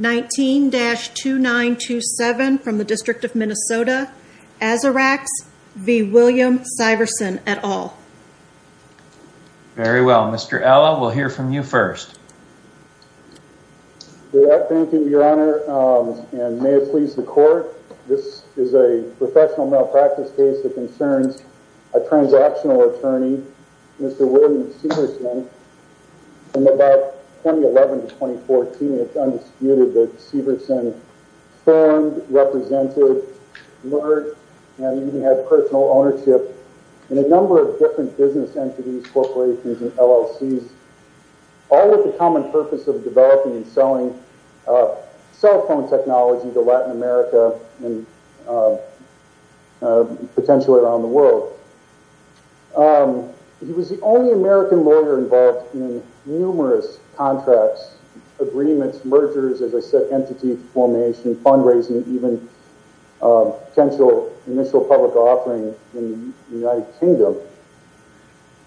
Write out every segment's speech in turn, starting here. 19-2927 from the District of Minnesota, Azarax, v. William Syverson, et al. Very well, Mr. Ella, we'll hear from you first. Thank you, Your Honor, and may it please the Court, this is a professional malpractice case that concerns a transactional attorney, Mr. William Syverson, from about 2011-2014, and it's undisputed that Syverson formed, represented, learned, and even had personal ownership in a number of different business entities, corporations, and LLCs, all with the common purpose of developing and selling cell phone technology to Latin America and potentially around the world. He was the only American lawyer involved in numerous contracts, agreements, mergers, as I said, entity formation, fundraising, even potential initial public offering in the United Kingdom.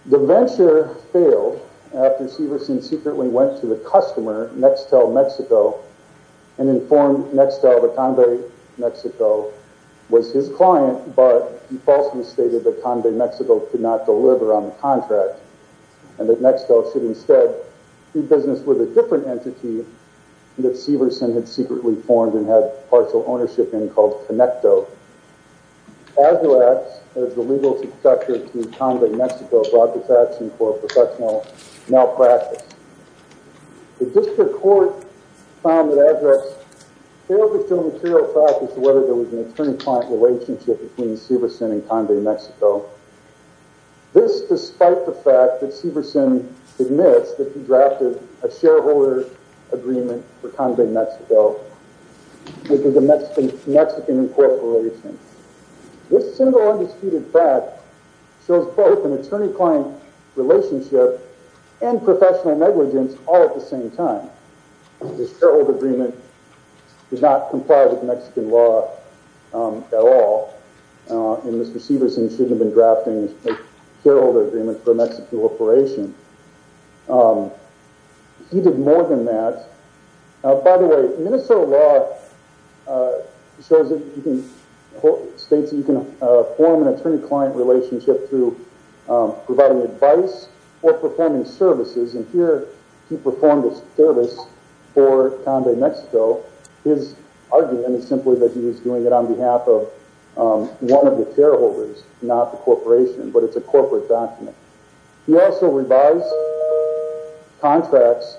The venture failed after Syverson secretly went to the customer, Nextel Mexico, and informed Nextel that Convey Mexico was his client, but he falsely stated that Convey Mexico could not deliver on the contract, and that Nextel should instead do business with a different entity that Syverson had secretly formed and had partial ownership in called Connecto. Azurex, as the legal successor to Convey Mexico, brought this action for a professional malpractice. The district court found that Azurex failed to show material evidence as to whether there was an attorney-client relationship between Syverson and Convey Mexico. This despite the fact that Syverson admits that he drafted a shareholder agreement for Convey Mexico, which is a Mexican corporation. This single, undisputed fact shows both an attorney-client relationship and professional negligence all at the same time. This shareholder agreement does not comply with Mexican law at all, and Mr. Syverson shouldn't have been drafting this shareholder agreement for a Mexican corporation. He did more than that. By the way, Minnesota law states that you can form an attorney-client relationship through providing advice or performing services, and here he performed a service for Convey Mexico. His argument is simply that he was doing it on behalf of one of the shareholders, not the corporation, but it's a corporate document. He also revised contracts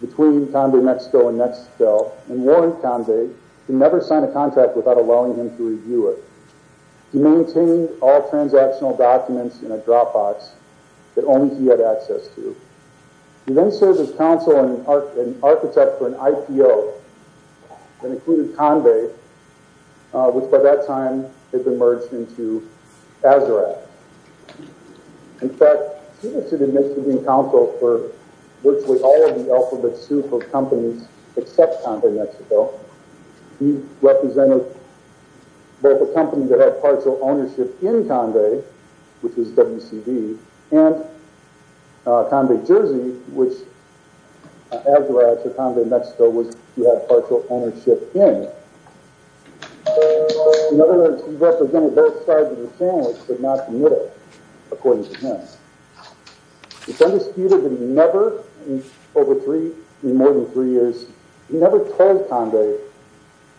between Convey Mexico and Nextel and warned Convey to never sign a contract without allowing him to review it. He maintained all transactional documents in a Dropbox that only he had access to. He then served as counsel and architect for an IPO that included Convey, which by that time had been merged into Azurex. In fact, Syverson had been counsel for virtually all of the alphabet soup of companies except Convey Mexico. He represented both a company that had partial ownership in Convey, which was WCD, and Convey Jersey, which Azurex or Convey Mexico had partial ownership in. In other words, he represented both sides of the sandwich but not the middle, according to him. It's undisputed that he never, in more than three years, he never told Convey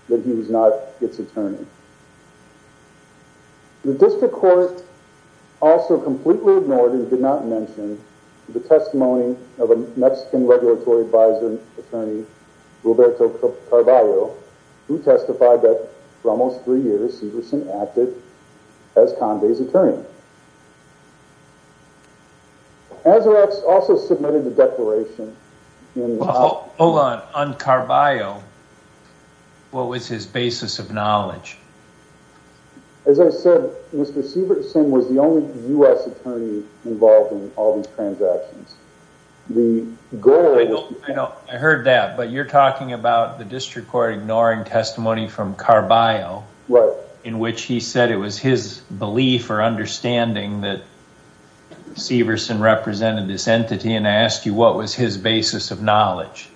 that he was not its attorney. The district court also completely ignored and did not mention the testimony of a Mexican regulatory advisory attorney, Roberto Carballo, who testified that for almost three years, Syverson acted as Convey's attorney. Azurex also submitted a declaration. Hold on. On Carballo, what was his basis of knowledge? As I said, Mr. Syverson was the only U.S. attorney involved in all these transactions. I heard that, but you're talking about the district court ignoring testimony from Carballo, in which he said it was his belief or understanding that Syverson represented this entity. And I asked you, what was his basis of knowledge?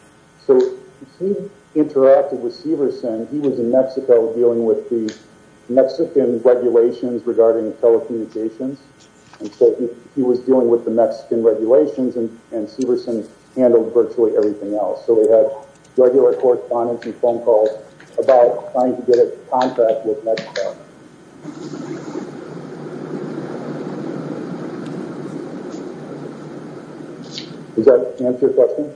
He interacted with Syverson. He was in Mexico dealing with the Mexican regulations regarding telecommunications. He was dealing with the Mexican regulations, and Syverson handled virtually everything else. We had regular correspondence and phone calls about trying to get a contract with Mexico. Does that answer your question?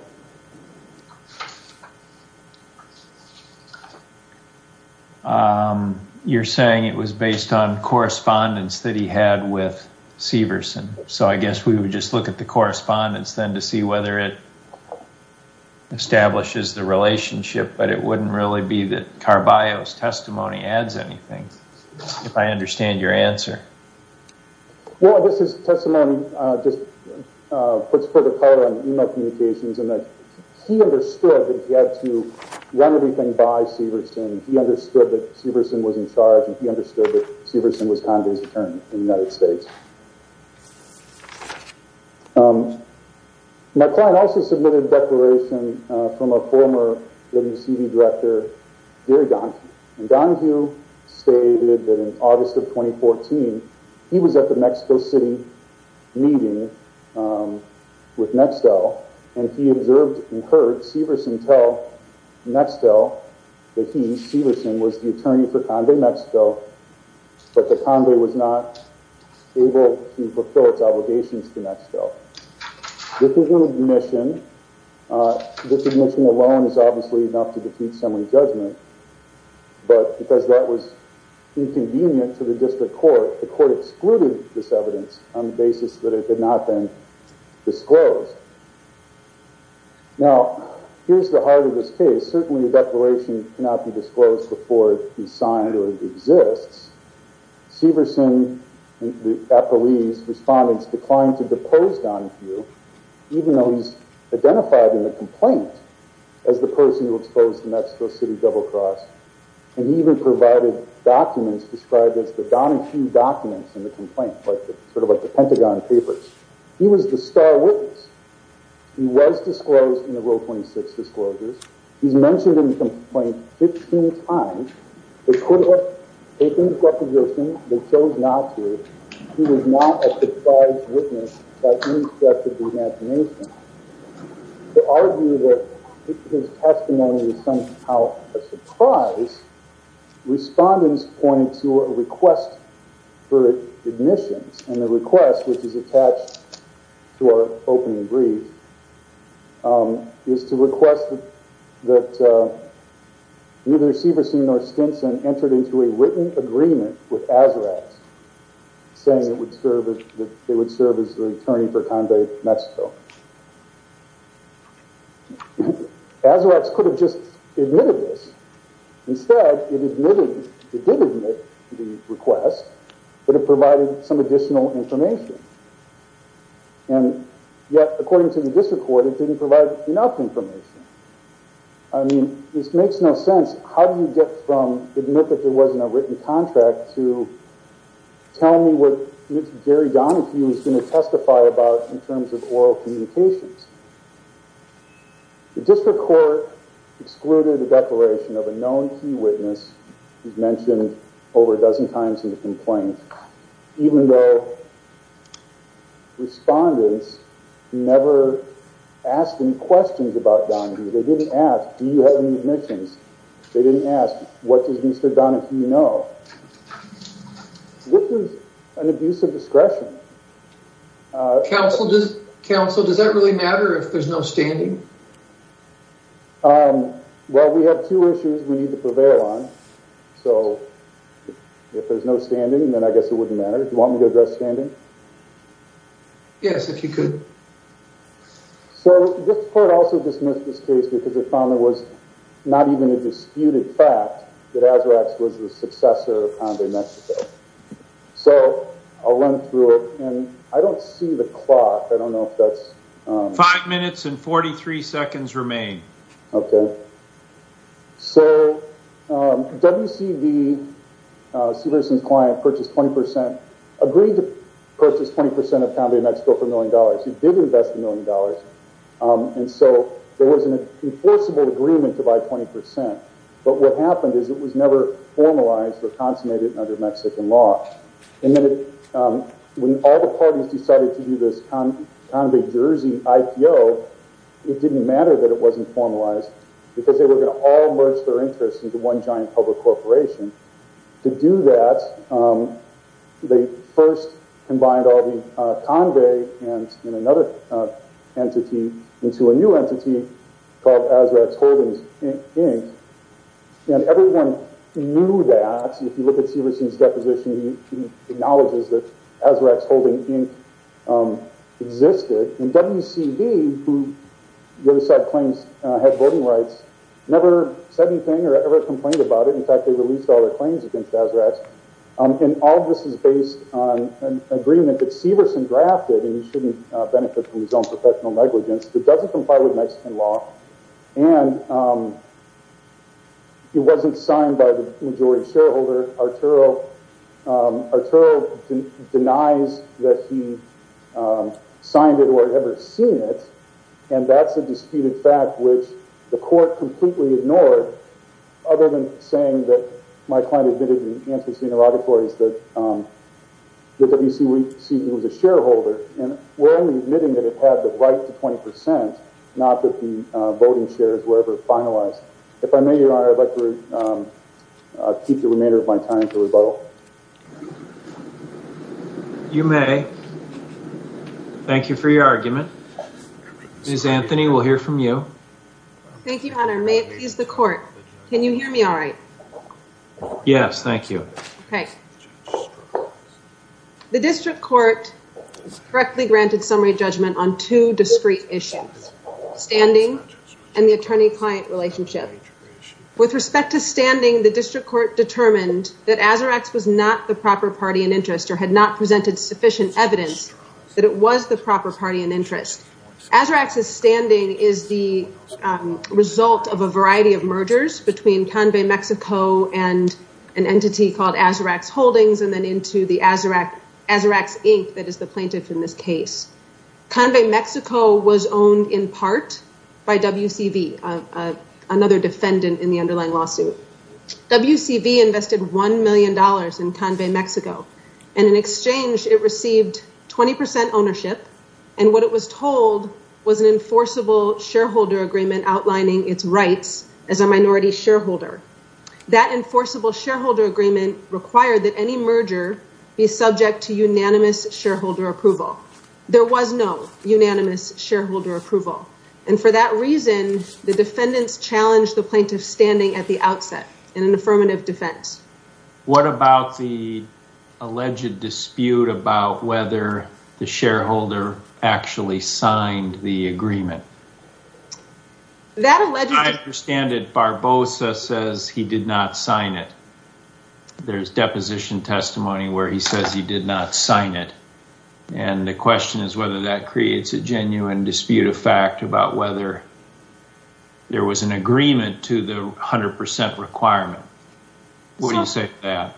You're saying it was based on correspondence that he had with Syverson, so I guess we would just look at the correspondence then to see whether it establishes the relationship, but it wouldn't really be that Carballo's testimony adds anything. If I understand your answer. Well, this testimony just puts further color on email communications, and that he understood that he had to run everything by Syverson. He understood that Syverson was in charge, and he understood that Syverson was Condon's attorney in the United States. My client also submitted a declaration from a former WCV director, Gary Donohue. Donohue stated that in August of 2014, he was at the Mexico City meeting with Nextel, and he observed and heard Syverson tell Nextel that he, Syverson, was the attorney for Condon, Mexico, but that Condon was not able to fulfill its obligations to Nextel. This admission alone is obviously enough to defeat assembly judgment, but because that was inconvenient to the district court, the court excluded this evidence on the basis that it had not been disclosed. Now, here's the heart of this case. Certainly a declaration cannot be disclosed before it is signed or exists. Syverson and the appellee's respondents declined to depose Donohue, even though he's identified in the complaint as the person who exposed the Mexico City double-cross, and he even provided documents described as the Donohue documents in the complaint, sort of like the Pentagon Papers. He was the star witness. He was disclosed in the Rule 26 disclosures. He's mentioned in the complaint 15 times. They could have taken his recognition. They chose not to. He was not a precise witness by any stretch of the imagination. To argue that his testimony was somehow a surprise, respondents pointed to a request for admissions, and the request, which is attached to our opening brief, is to request that neither Syverson nor Stinson entered into a written agreement with Azarax, saying it would serve as the attorney for Condé, Mexico. Azarax could have just admitted this. Instead, it admitted, it did admit the request, but it provided some additional information. And yet, according to the district court, it didn't provide enough information. I mean, this makes no sense. How do you get from admit that there wasn't a written contract to tell me what Jerry Donohue is going to testify about in terms of oral communications? The district court excluded a declaration of a known key witness who's mentioned over a dozen times in the complaint, even though respondents never asked any questions about Donohue. They didn't ask, do you have any admissions? They didn't ask, what does Mr. Donohue know? This is an abuse of discretion. Counsel, does that really matter if there's no standing? Well, we have two issues we need to prevail on. So if there's no standing, then I guess it wouldn't matter. Do you want me to address standing? Yes, if you could. So this court also dismissed this case because it found there was not even a disputed fact that Azarax was the successor of Condé, Mexico. So I'll run through it. And I don't see the clock. I don't know if that's... Five minutes and 43 seconds remain. Okay. So WCV, Severson's client, purchased 20%, agreed to purchase 20% of Condé, Mexico for $1 million. He did invest $1 million. And so there was an enforceable agreement to buy 20%. But what happened is it was never formalized or consummated under Mexican law. And then when all the parties decided to do this Condé, Jersey IPO, it didn't matter that it wasn't formalized because they were going to all merge their interests into one giant public corporation. To do that, they first combined all the Condé and another entity into a new entity called Azarax Holdings, Inc. And everyone knew that. If you look at Severson's deposition, he acknowledges that Azarax Holdings, Inc. existed. And WCV, who the other side claims had voting rights, never said anything or ever complained about it. In fact, they released all their claims against Azarax. And all of this is based on an agreement that Severson drafted. And you shouldn't benefit from his own professional negligence. It doesn't comply with Mexican law. And it wasn't signed by the majority shareholder, Arturo. Arturo denies that he signed it or had ever seen it. And that's a disputed fact, which the court completely ignored, other than saying that my client admitted in answers to interrogatories that WCV was a shareholder. And we're only admitting that it had the right to 20%, not that the voting shares were ever finalized. If I may, Your Honor, I'd like to keep the remainder of my time for rebuttal. You may. Thank you for your argument. Ms. Anthony, we'll hear from you. Thank you, Your Honor. May it please the court. Can you hear me all right? Yes, thank you. Okay. The district court correctly granted summary judgment on two discrete issues, standing and the attorney-client relationship. With respect to standing, the district court determined that Azarax was not the proper party in interest or had not presented sufficient evidence that it was the proper party in interest. Azarax's standing is the result of a variety of mergers between Convey Mexico and an entity called Azarax Holdings and then into the Azarax Inc. that is the plaintiff in this case. Convey Mexico was owned in part by WCV, another defendant in the underlying lawsuit. WCV invested $1 million in Convey Mexico, and in exchange it received 20% ownership. And what it was told was an enforceable shareholder agreement outlining its rights as a minority shareholder. That enforceable shareholder agreement required that any merger be subject to unanimous shareholder approval. There was no unanimous shareholder approval. And for that reason, the defendants challenged the plaintiff standing at the outset in an affirmative defense. What about the alleged dispute about whether the shareholder actually signed the agreement? I understand that Barbosa says he did not sign it. There's deposition testimony where he says he did not sign it. And the question is whether that creates a genuine dispute of fact about whether there was an agreement to the 100% requirement. What do you say to that?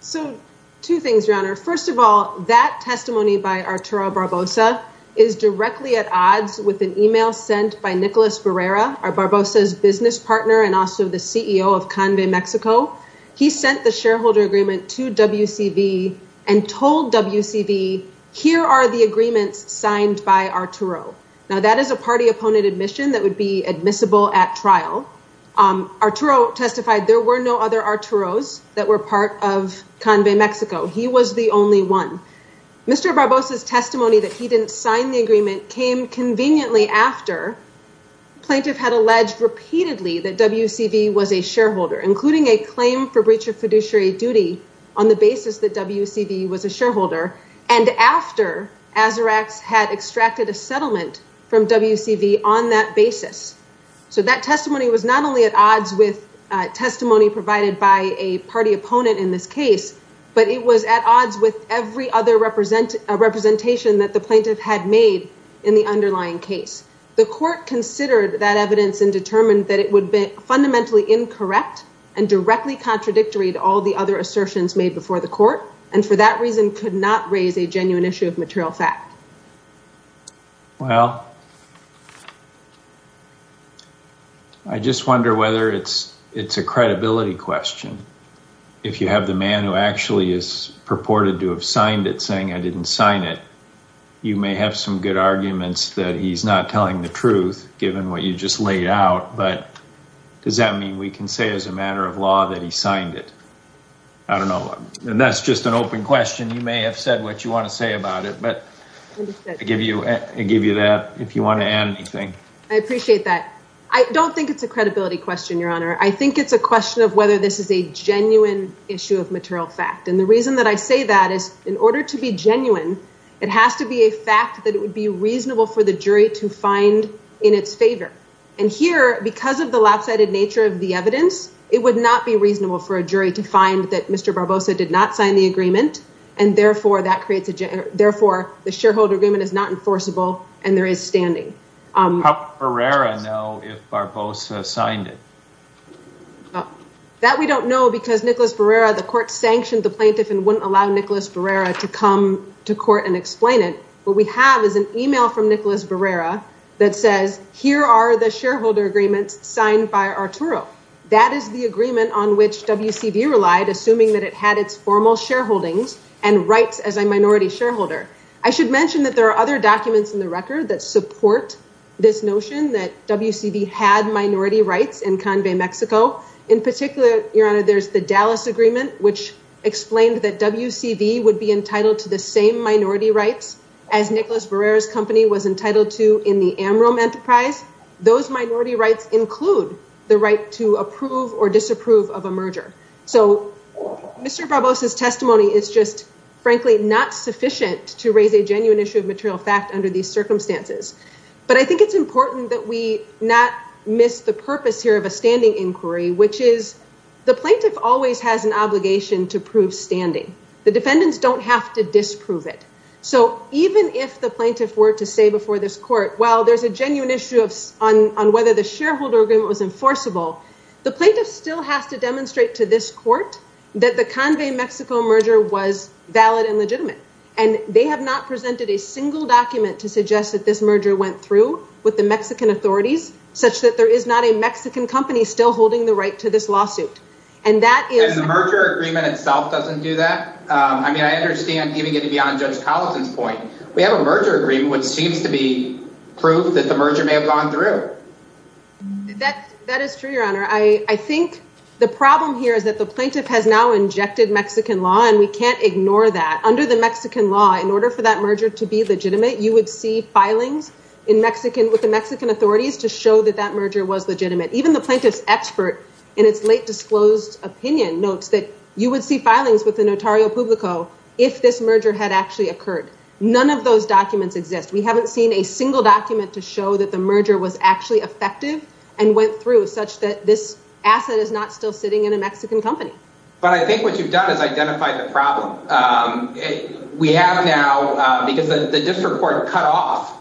So two things, Your Honor. First of all, that testimony by Arturo Barbosa is directly at odds with an email sent by Nicolas Barrera, Barbosa's business partner and also the CEO of Convey Mexico. He sent the shareholder agreement to WCV and told WCV, here are the agreements signed by Arturo. Now, that is a party opponent admission that would be admissible at trial. Arturo testified there were no other Arturos that were part of Convey Mexico. He was the only one. Mr. Barbosa's testimony that he didn't sign the agreement came conveniently after plaintiff had alleged repeatedly that WCV was a shareholder, including a claim for breach of fiduciary duty on the basis that WCV was a shareholder. And after Azarax had extracted a settlement from WCV on that basis. So that testimony was not only at odds with testimony provided by a party opponent in this case, but it was at odds with every other representation that the plaintiff had made in the underlying case. The court considered that evidence and determined that it would be fundamentally incorrect and directly contradictory to all the other assertions made before the court and for that reason could not raise a genuine issue of material fact. Well, I just wonder whether it's, it's a credibility question. If you have the man who actually is purported to have signed it saying I didn't sign it. You may have some good arguments that he's not telling the truth, given what you just laid out, but does that mean we can say as a matter of law that he signed it? I don't know. And that's just an open question. You may have said what you want to say about it, but I give you that if you want to add anything. I appreciate that. I don't think it's a credibility question, Your Honor. I think it's a question of whether this is a genuine issue of material fact. And the reason that I say that is in order to be genuine, it has to be a fact that it would be reasonable for the jury to find in its favor. And here, because of the lopsided nature of the evidence, it would not be reasonable for a jury to find that Mr. Barbosa did not sign the agreement. And therefore, that creates, therefore, the shareholder agreement is not enforceable and there is standing. How would Barrera know if Barbosa signed it? That we don't know because Nicholas Barrera, the court sanctioned the plaintiff and wouldn't allow Nicholas Barrera to come to court and explain it. What we have is an email from Nicholas Barrera that says, here are the shareholder agreements signed by Arturo. That is the agreement on which WCV relied, assuming that it had its formal shareholdings and rights as a minority shareholder. I should mention that there are other documents in the record that support this notion that WCV had minority rights in Canvey, Mexico. In particular, Your Honor, there's the Dallas Agreement, which explained that WCV would be entitled to the same minority rights as Nicholas Barrera's company was entitled to in the Amrom Enterprise. Those minority rights include the right to approve or disapprove of a merger. So, Mr. Barbosa's testimony is just, frankly, not sufficient to raise a genuine issue of material fact under these circumstances. But I think it's important that we not miss the purpose here of a standing inquiry, which is the plaintiff always has an obligation to prove standing. The defendants don't have to disprove it. So, even if the plaintiff were to say before this court, well, there's a genuine issue on whether the shareholder agreement was enforceable, the plaintiff still has to demonstrate to this court that the Canvey, Mexico merger was valid and legitimate. And they have not presented a single document to suggest that this merger went through with the Mexican authorities, such that there is not a Mexican company still holding the right to this lawsuit. And that is the merger agreement itself doesn't do that. I mean, I understand giving it to be on Judge Collison's point. We have a merger agreement, which seems to be proof that the merger may have gone through. That is true, Your Honor. I think the problem here is that the plaintiff has now injected Mexican law and we can't ignore that. And under the Mexican law, in order for that merger to be legitimate, you would see filings with the Mexican authorities to show that that merger was legitimate. Even the plaintiff's expert in its late disclosed opinion notes that you would see filings with the notario publico if this merger had actually occurred. None of those documents exist. We haven't seen a single document to show that the merger was actually effective and went through, such that this asset is not still sitting in a Mexican company. But I think what you've done is identify the problem. We have now, because the district court cut off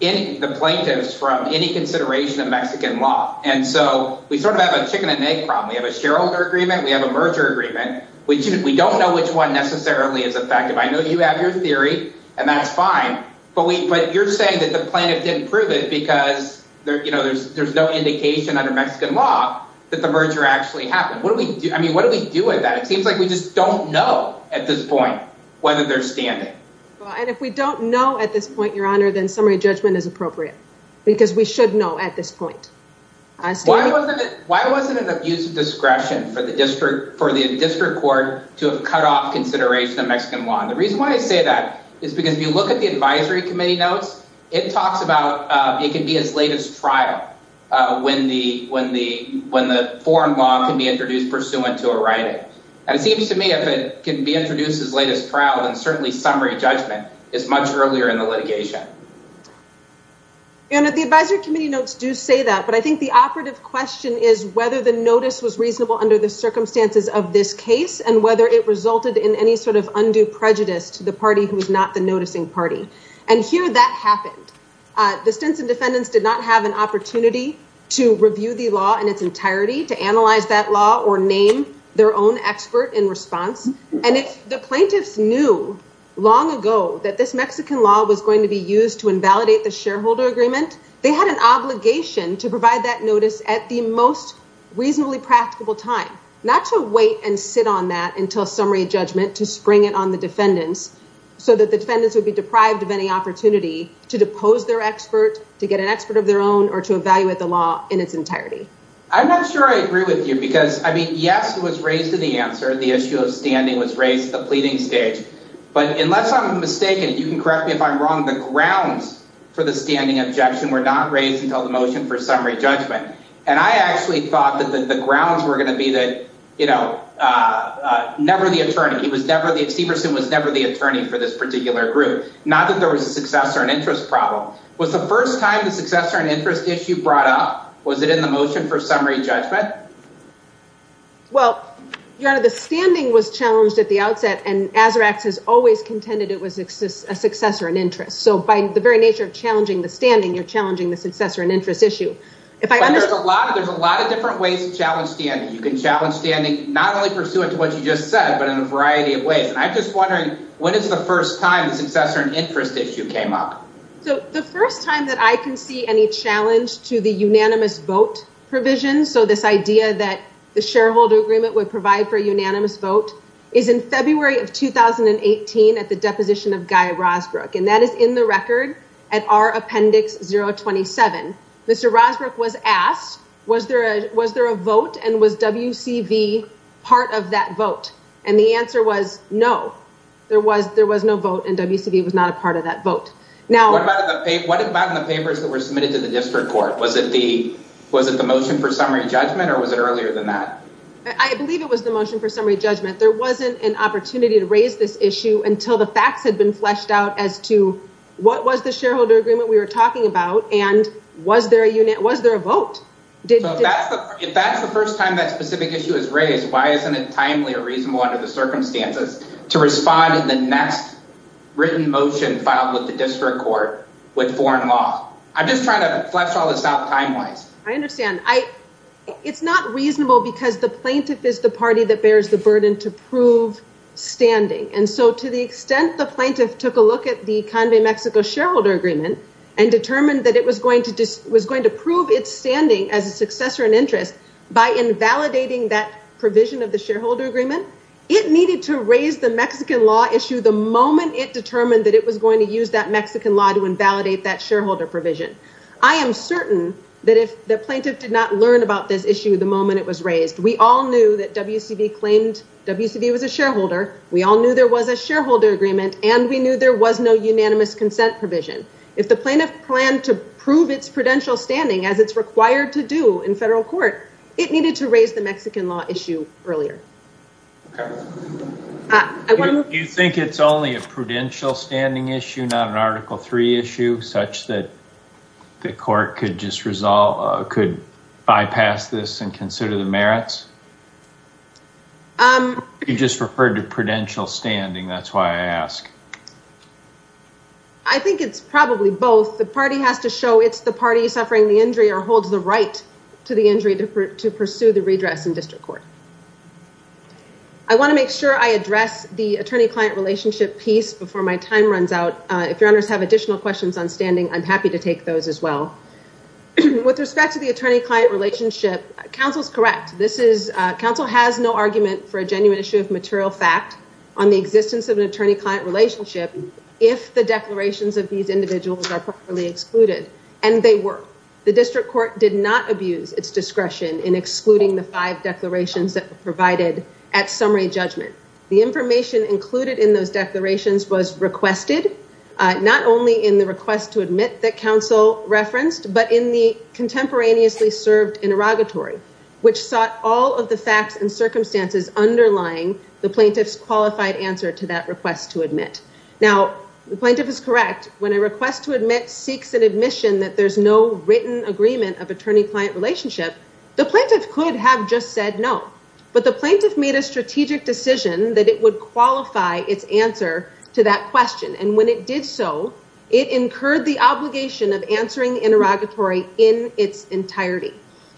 the plaintiffs from any consideration of Mexican law. And so we sort of have a chicken and egg problem. We have a shareholder agreement. We have a merger agreement. We don't know which one necessarily is effective. I know you have your theory, and that's fine. But you're saying that the plaintiff didn't prove it because there's no indication under Mexican law that the merger actually happened. I mean, what do we do with that? It seems like we just don't know at this point whether they're standing. And if we don't know at this point, Your Honor, then summary judgment is appropriate because we should know at this point. Why wasn't it of use of discretion for the district court to have cut off consideration of Mexican law? And the reason why I say that is because if you look at the advisory committee notes, it talks about it can be as late as trial when the foreign law can be introduced pursuant to a writing. And it seems to me if it can be introduced as late as trial, then certainly summary judgment is much earlier in the litigation. And the advisory committee notes do say that. But I think the operative question is whether the notice was reasonable under the circumstances of this case and whether it resulted in any sort of undue prejudice to the party who is not the noticing party. And here that happened. The Stinson defendants did not have an opportunity to review the law in its entirety, to analyze that law or name their own expert in response. And if the plaintiffs knew long ago that this Mexican law was going to be used to invalidate the shareholder agreement, they had an obligation to provide that notice at the most reasonably practicable time, not to wait and sit on that until summary judgment to spring it on the defendants so that the defendants would be deprived of any opportunity to depose their expert, to get an expert of their own or to evaluate the law in its entirety. I'm not sure I agree with you because I mean, yes, it was raised in the answer. The issue of standing was raised the pleading stage. But unless I'm mistaken, you can correct me if I'm wrong. The grounds for the standing objection were not raised until the motion for summary judgment. And I actually thought that the grounds were going to be that, you know, never the attorney. Stevenson was never the attorney for this particular group, not that there was a success or an interest problem. Was the first time the success or an interest issue brought up? Was it in the motion for summary judgment? Well, your honor, the standing was challenged at the outset and Azarax has always contended it was a success or an interest. So by the very nature of challenging the standing, you're challenging the success or an interest issue. There's a lot of different ways to challenge standing. You can challenge standing not only pursuant to what you just said, but in a variety of ways. And I'm just wondering, when is the first time the success or an interest issue came up? So the first time that I can see any challenge to the unanimous vote provision. So this idea that the shareholder agreement would provide for a unanimous vote is in February of 2018 at the deposition of Guy Rosbrook. And that is in the record at our appendix 027. Mr. Rosbrook was asked, was there was there a vote and was WCV part of that vote? And the answer was no, there was there was no vote and WCV was not a part of that vote. Now, what about the papers that were submitted to the district court? Was it the was it the motion for summary judgment or was it earlier than that? I believe it was the motion for summary judgment. There wasn't an opportunity to raise this issue until the facts had been fleshed out as to what was the shareholder agreement we were talking about. And was there a unit? Was there a vote? If that's the first time that specific issue is raised, why isn't it timely or reasonable under the circumstances to respond in the next written motion filed with the district court with foreign law? I'm just trying to flesh all this out time wise. I understand. It's not reasonable because the plaintiff is the party that bears the burden to prove standing. And so to the extent the plaintiff took a look at the Convey Mexico shareholder agreement and determined that it was going to was going to prove its standing as a successor and interest by invalidating that provision of the shareholder agreement. It needed to raise the Mexican law issue the moment it determined that it was going to use that Mexican law to invalidate that shareholder provision. I am certain that if the plaintiff did not learn about this issue, the moment it was raised, we all knew that WCV claimed WCV was a shareholder. We all knew there was a shareholder agreement and we knew there was no unanimous consent provision. If the plaintiff planned to prove its prudential standing as it's required to do in federal court, it needed to raise the Mexican law issue earlier. Do you think it's only a prudential standing issue, not an article three issue such that the court could just resolve, could bypass this and consider the merits? You just referred to prudential standing. That's why I asked. I think it's probably both. The party has to show it's the party suffering the injury or holds the right to the injury to pursue the redress in district court. I want to make sure I address the attorney-client relationship piece before my time runs out. If your honors have additional questions on standing, I'm happy to take those as well. With respect to the attorney-client relationship, counsel's correct. Counsel has no argument for a genuine issue of material fact on the existence of an attorney-client relationship if the declarations of these individuals are properly excluded. And they were. The district court did not abuse its discretion in excluding the five declarations that were provided at summary judgment. The information included in those declarations was requested, not only in the request to admit that counsel referenced, but in the contemporaneously served interrogatory, which sought all of the facts and circumstances underlying the plaintiff's qualified answer to that request to admit. Now, the plaintiff is correct. When a request to admit seeks an admission that there's no written agreement of attorney-client relationship, the plaintiff could have just said no. But the plaintiff made a strategic decision that it would qualify its answer to that question. And when it did so, it incurred the obligation of answering interrogatory in its entirety.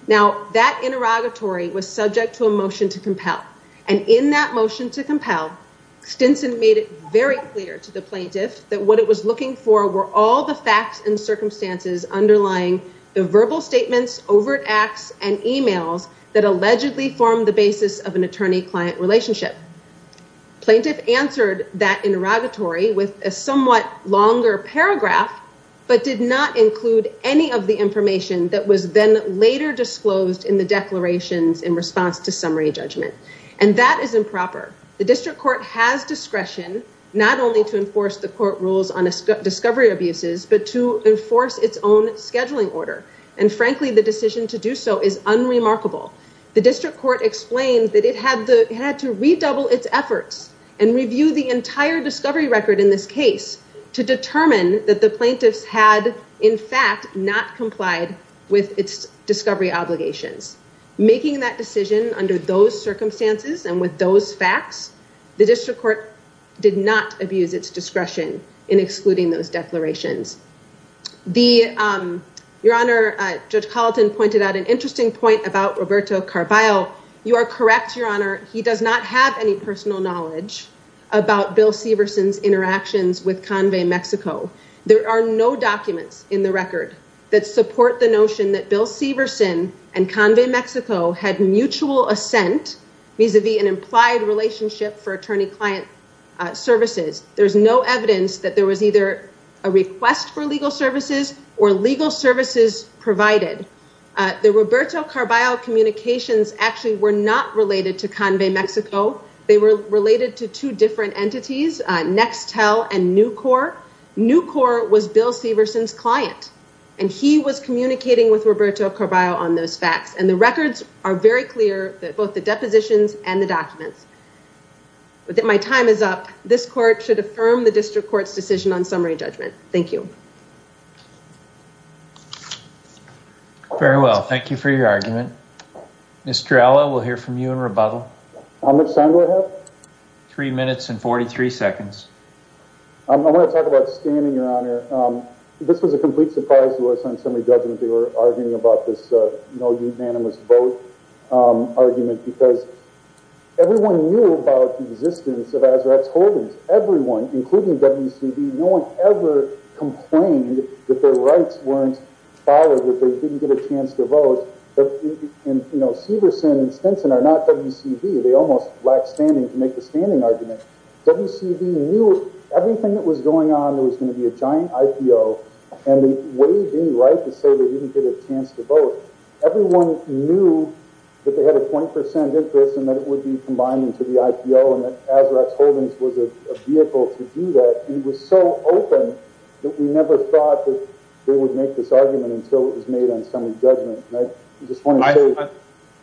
Now, that interrogatory was subject to a motion to compel. And in that motion to compel, Stinson made it very clear to the plaintiff that what it was looking for were all the facts and circumstances underlying the verbal statements, overt acts, and emails that allegedly formed the basis of an attorney-client relationship. Plaintiff answered that interrogatory with a somewhat longer paragraph, but did not include any of the information that was then later disclosed in the declarations in response to summary judgment. And that is improper. The district court has discretion, not only to enforce the court rules on discovery abuses, but to enforce its own scheduling order. And frankly, the decision to do so is unremarkable. The district court explained that it had to redouble its efforts and review the entire discovery record in this case to determine that the plaintiffs had, in fact, not complied with its discovery obligations. Making that decision under those circumstances and with those facts, the district court did not abuse its discretion in excluding those declarations. Your Honor, Judge Colleton pointed out an interesting point about Roberto Carvalho. You are correct, Your Honor. He does not have any personal knowledge about Bill Severson's interactions with Convay Mexico. There are no documents in the record that support the notion that Bill Severson and Convay Mexico had mutual assent vis-a-vis an implied relationship for attorney-client services. There's no evidence that there was either a request for legal services or legal services provided. The Roberto Carvalho communications actually were not related to Convay Mexico. They were related to two different entities, Nextel and Nucor. Nucor was Bill Severson's client, and he was communicating with Roberto Carvalho on those facts. And the records are very clear, both the depositions and the documents. My time is up. This court should affirm the district court's decision on summary judgment. Thank you. Very well. Thank you for your argument. Mr. Alla, we'll hear from you in rebuttal. How much time do I have? Three minutes and 43 seconds. I want to talk about standing, Your Honor. This was a complete surprise to us on summary judgment. They were arguing about this, you know, unanimous vote argument because everyone knew about the existence of Azarax Holdings. Everyone, including WCV, no one ever complained that their rights weren't followed, that they didn't get a chance to vote. And, you know, Severson and Stinson are not WCV. They almost lacked standing to make the standing argument. WCV knew everything that was going on. It was going to be a giant IPO. And they weighed any right to say they didn't get a chance to vote. Everyone knew that they had a 20% interest and that it would be combined into the IPO and that Azarax Holdings was a vehicle to do that. And it was so open that we never thought that they would make this argument until it was made on summary judgment. And I just want to say.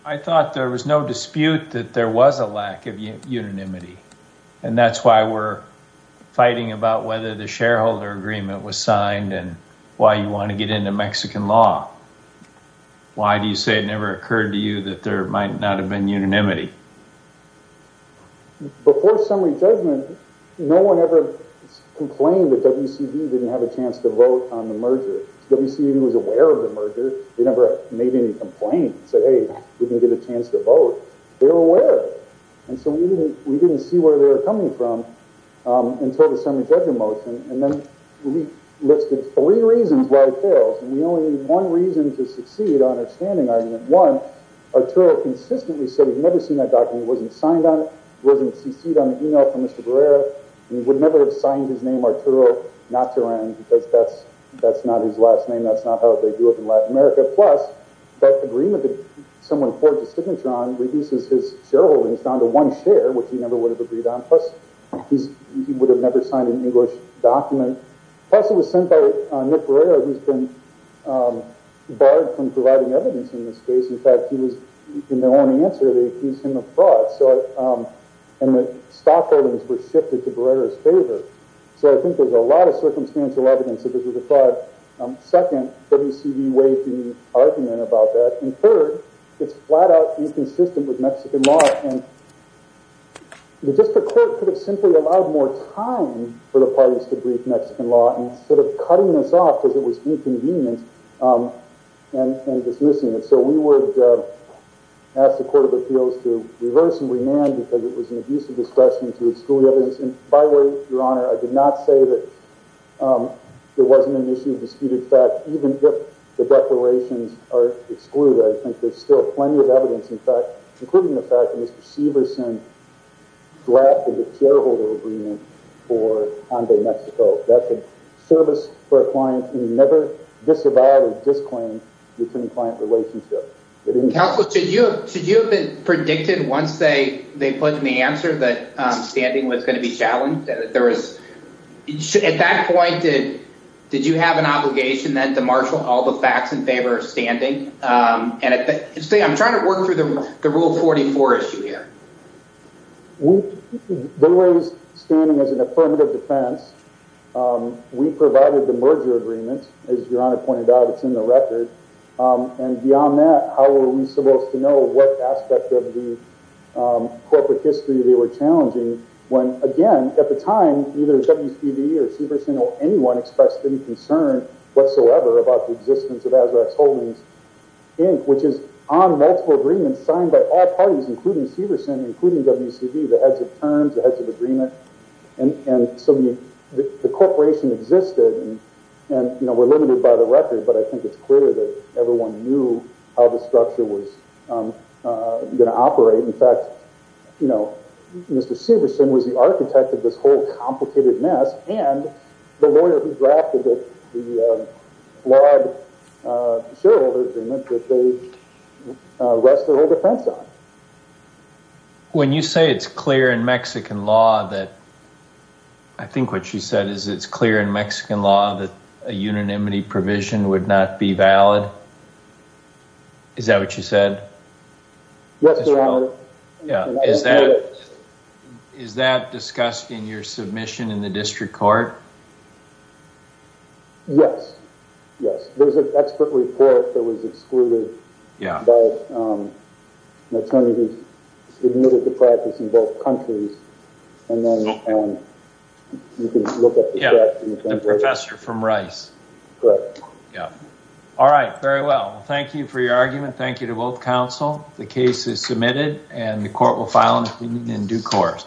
I thought there was no dispute that there was a lack of unanimity. And that's why we're fighting about whether the shareholder agreement was signed and why you want to get into Mexican law. Why do you say it never occurred to you that there might not have been unanimity? Before summary judgment, no one ever complained that WCV didn't have a chance to vote on the merger. WCV was aware of the merger. They never made any complaints. They didn't get a chance to vote. They were aware. And so we didn't see where they were coming from until the summary judgment motion. And then we listed three reasons why it fails. And we only need one reason to succeed on our standing argument. One, Arturo consistently said he'd never seen that document. It wasn't signed on it. It wasn't cc'd on the email from Mr. Barrera. And he would never have signed his name Arturo Nataran because that's not his last name. That's not how they do it in Latin America. Plus, that agreement that someone forged a signature on reduces his shareholdings down to one share, which he never would have agreed on. Plus, he would have never signed an English document. Plus, it was sent by Nick Barrera, who's been barred from providing evidence in this case. In fact, he was, in their own answer, they accused him of fraud. And the stock holdings were shifted to Barrera's favor. So I think there's a lot of circumstantial evidence that this was a fraud. Second, WCV waived any argument about that. And third, it's flat-out inconsistent with Mexican law. And the district court could have simply allowed more time for the parties to brief Mexican law instead of cutting this off because it was inconvenient and dismissing it. So we would ask the Court of Appeals to reverse and remand because it was an abusive discussion to exclude evidence. And by the way, Your Honor, I did not say that there wasn't an issue of disputed fact. Even if the declarations are excluded, I think there's still plenty of evidence, in fact, including the fact that Mr. Severson drafted a shareholder agreement for Honda Mexico. That's a service for a client who never disavowed a disclaim between client relationship. Counsel, should you have predicted once they put in the answer that standing was going to be challenged? At that point, did you have an obligation then to marshal all the facts in favor of standing? I'm trying to work through the Rule 44 issue here. They raised standing as an affirmative defense. We provided the merger agreement. As Your Honor pointed out, it's in the record. And beyond that, how were we supposed to know what aspect of the corporate history they were challenging? When, again, at the time, either WCB or Severson or anyone expressed any concern whatsoever about the existence of Azrax Holdings, Inc., which is on multiple agreements signed by all parties, including Severson, including WCB, the heads of terms, the heads of agreement. And so the corporation existed. And we're limited by the record, but I think it's clear that everyone knew how the structure was going to operate. In fact, Mr. Severson was the architect of this whole complicated mess. And the lawyer who drafted the shared agreement that they rest their whole defense on. When you say it's clear in Mexican law that—I think what you said is it's clear in Mexican law that a unanimity provision would not be valid. Is that what you said? Yes, Your Honor. Is that discussed in your submission in the district court? Yes. There's an expert report that was excluded by an attorney who's submitted the practice in both countries. And then you can look at the draft. The professor from Rice. Correct. All right. Very well. Thank you for your argument. Thank you to both counsel. The case is submitted, and the court will file an opinion in due course.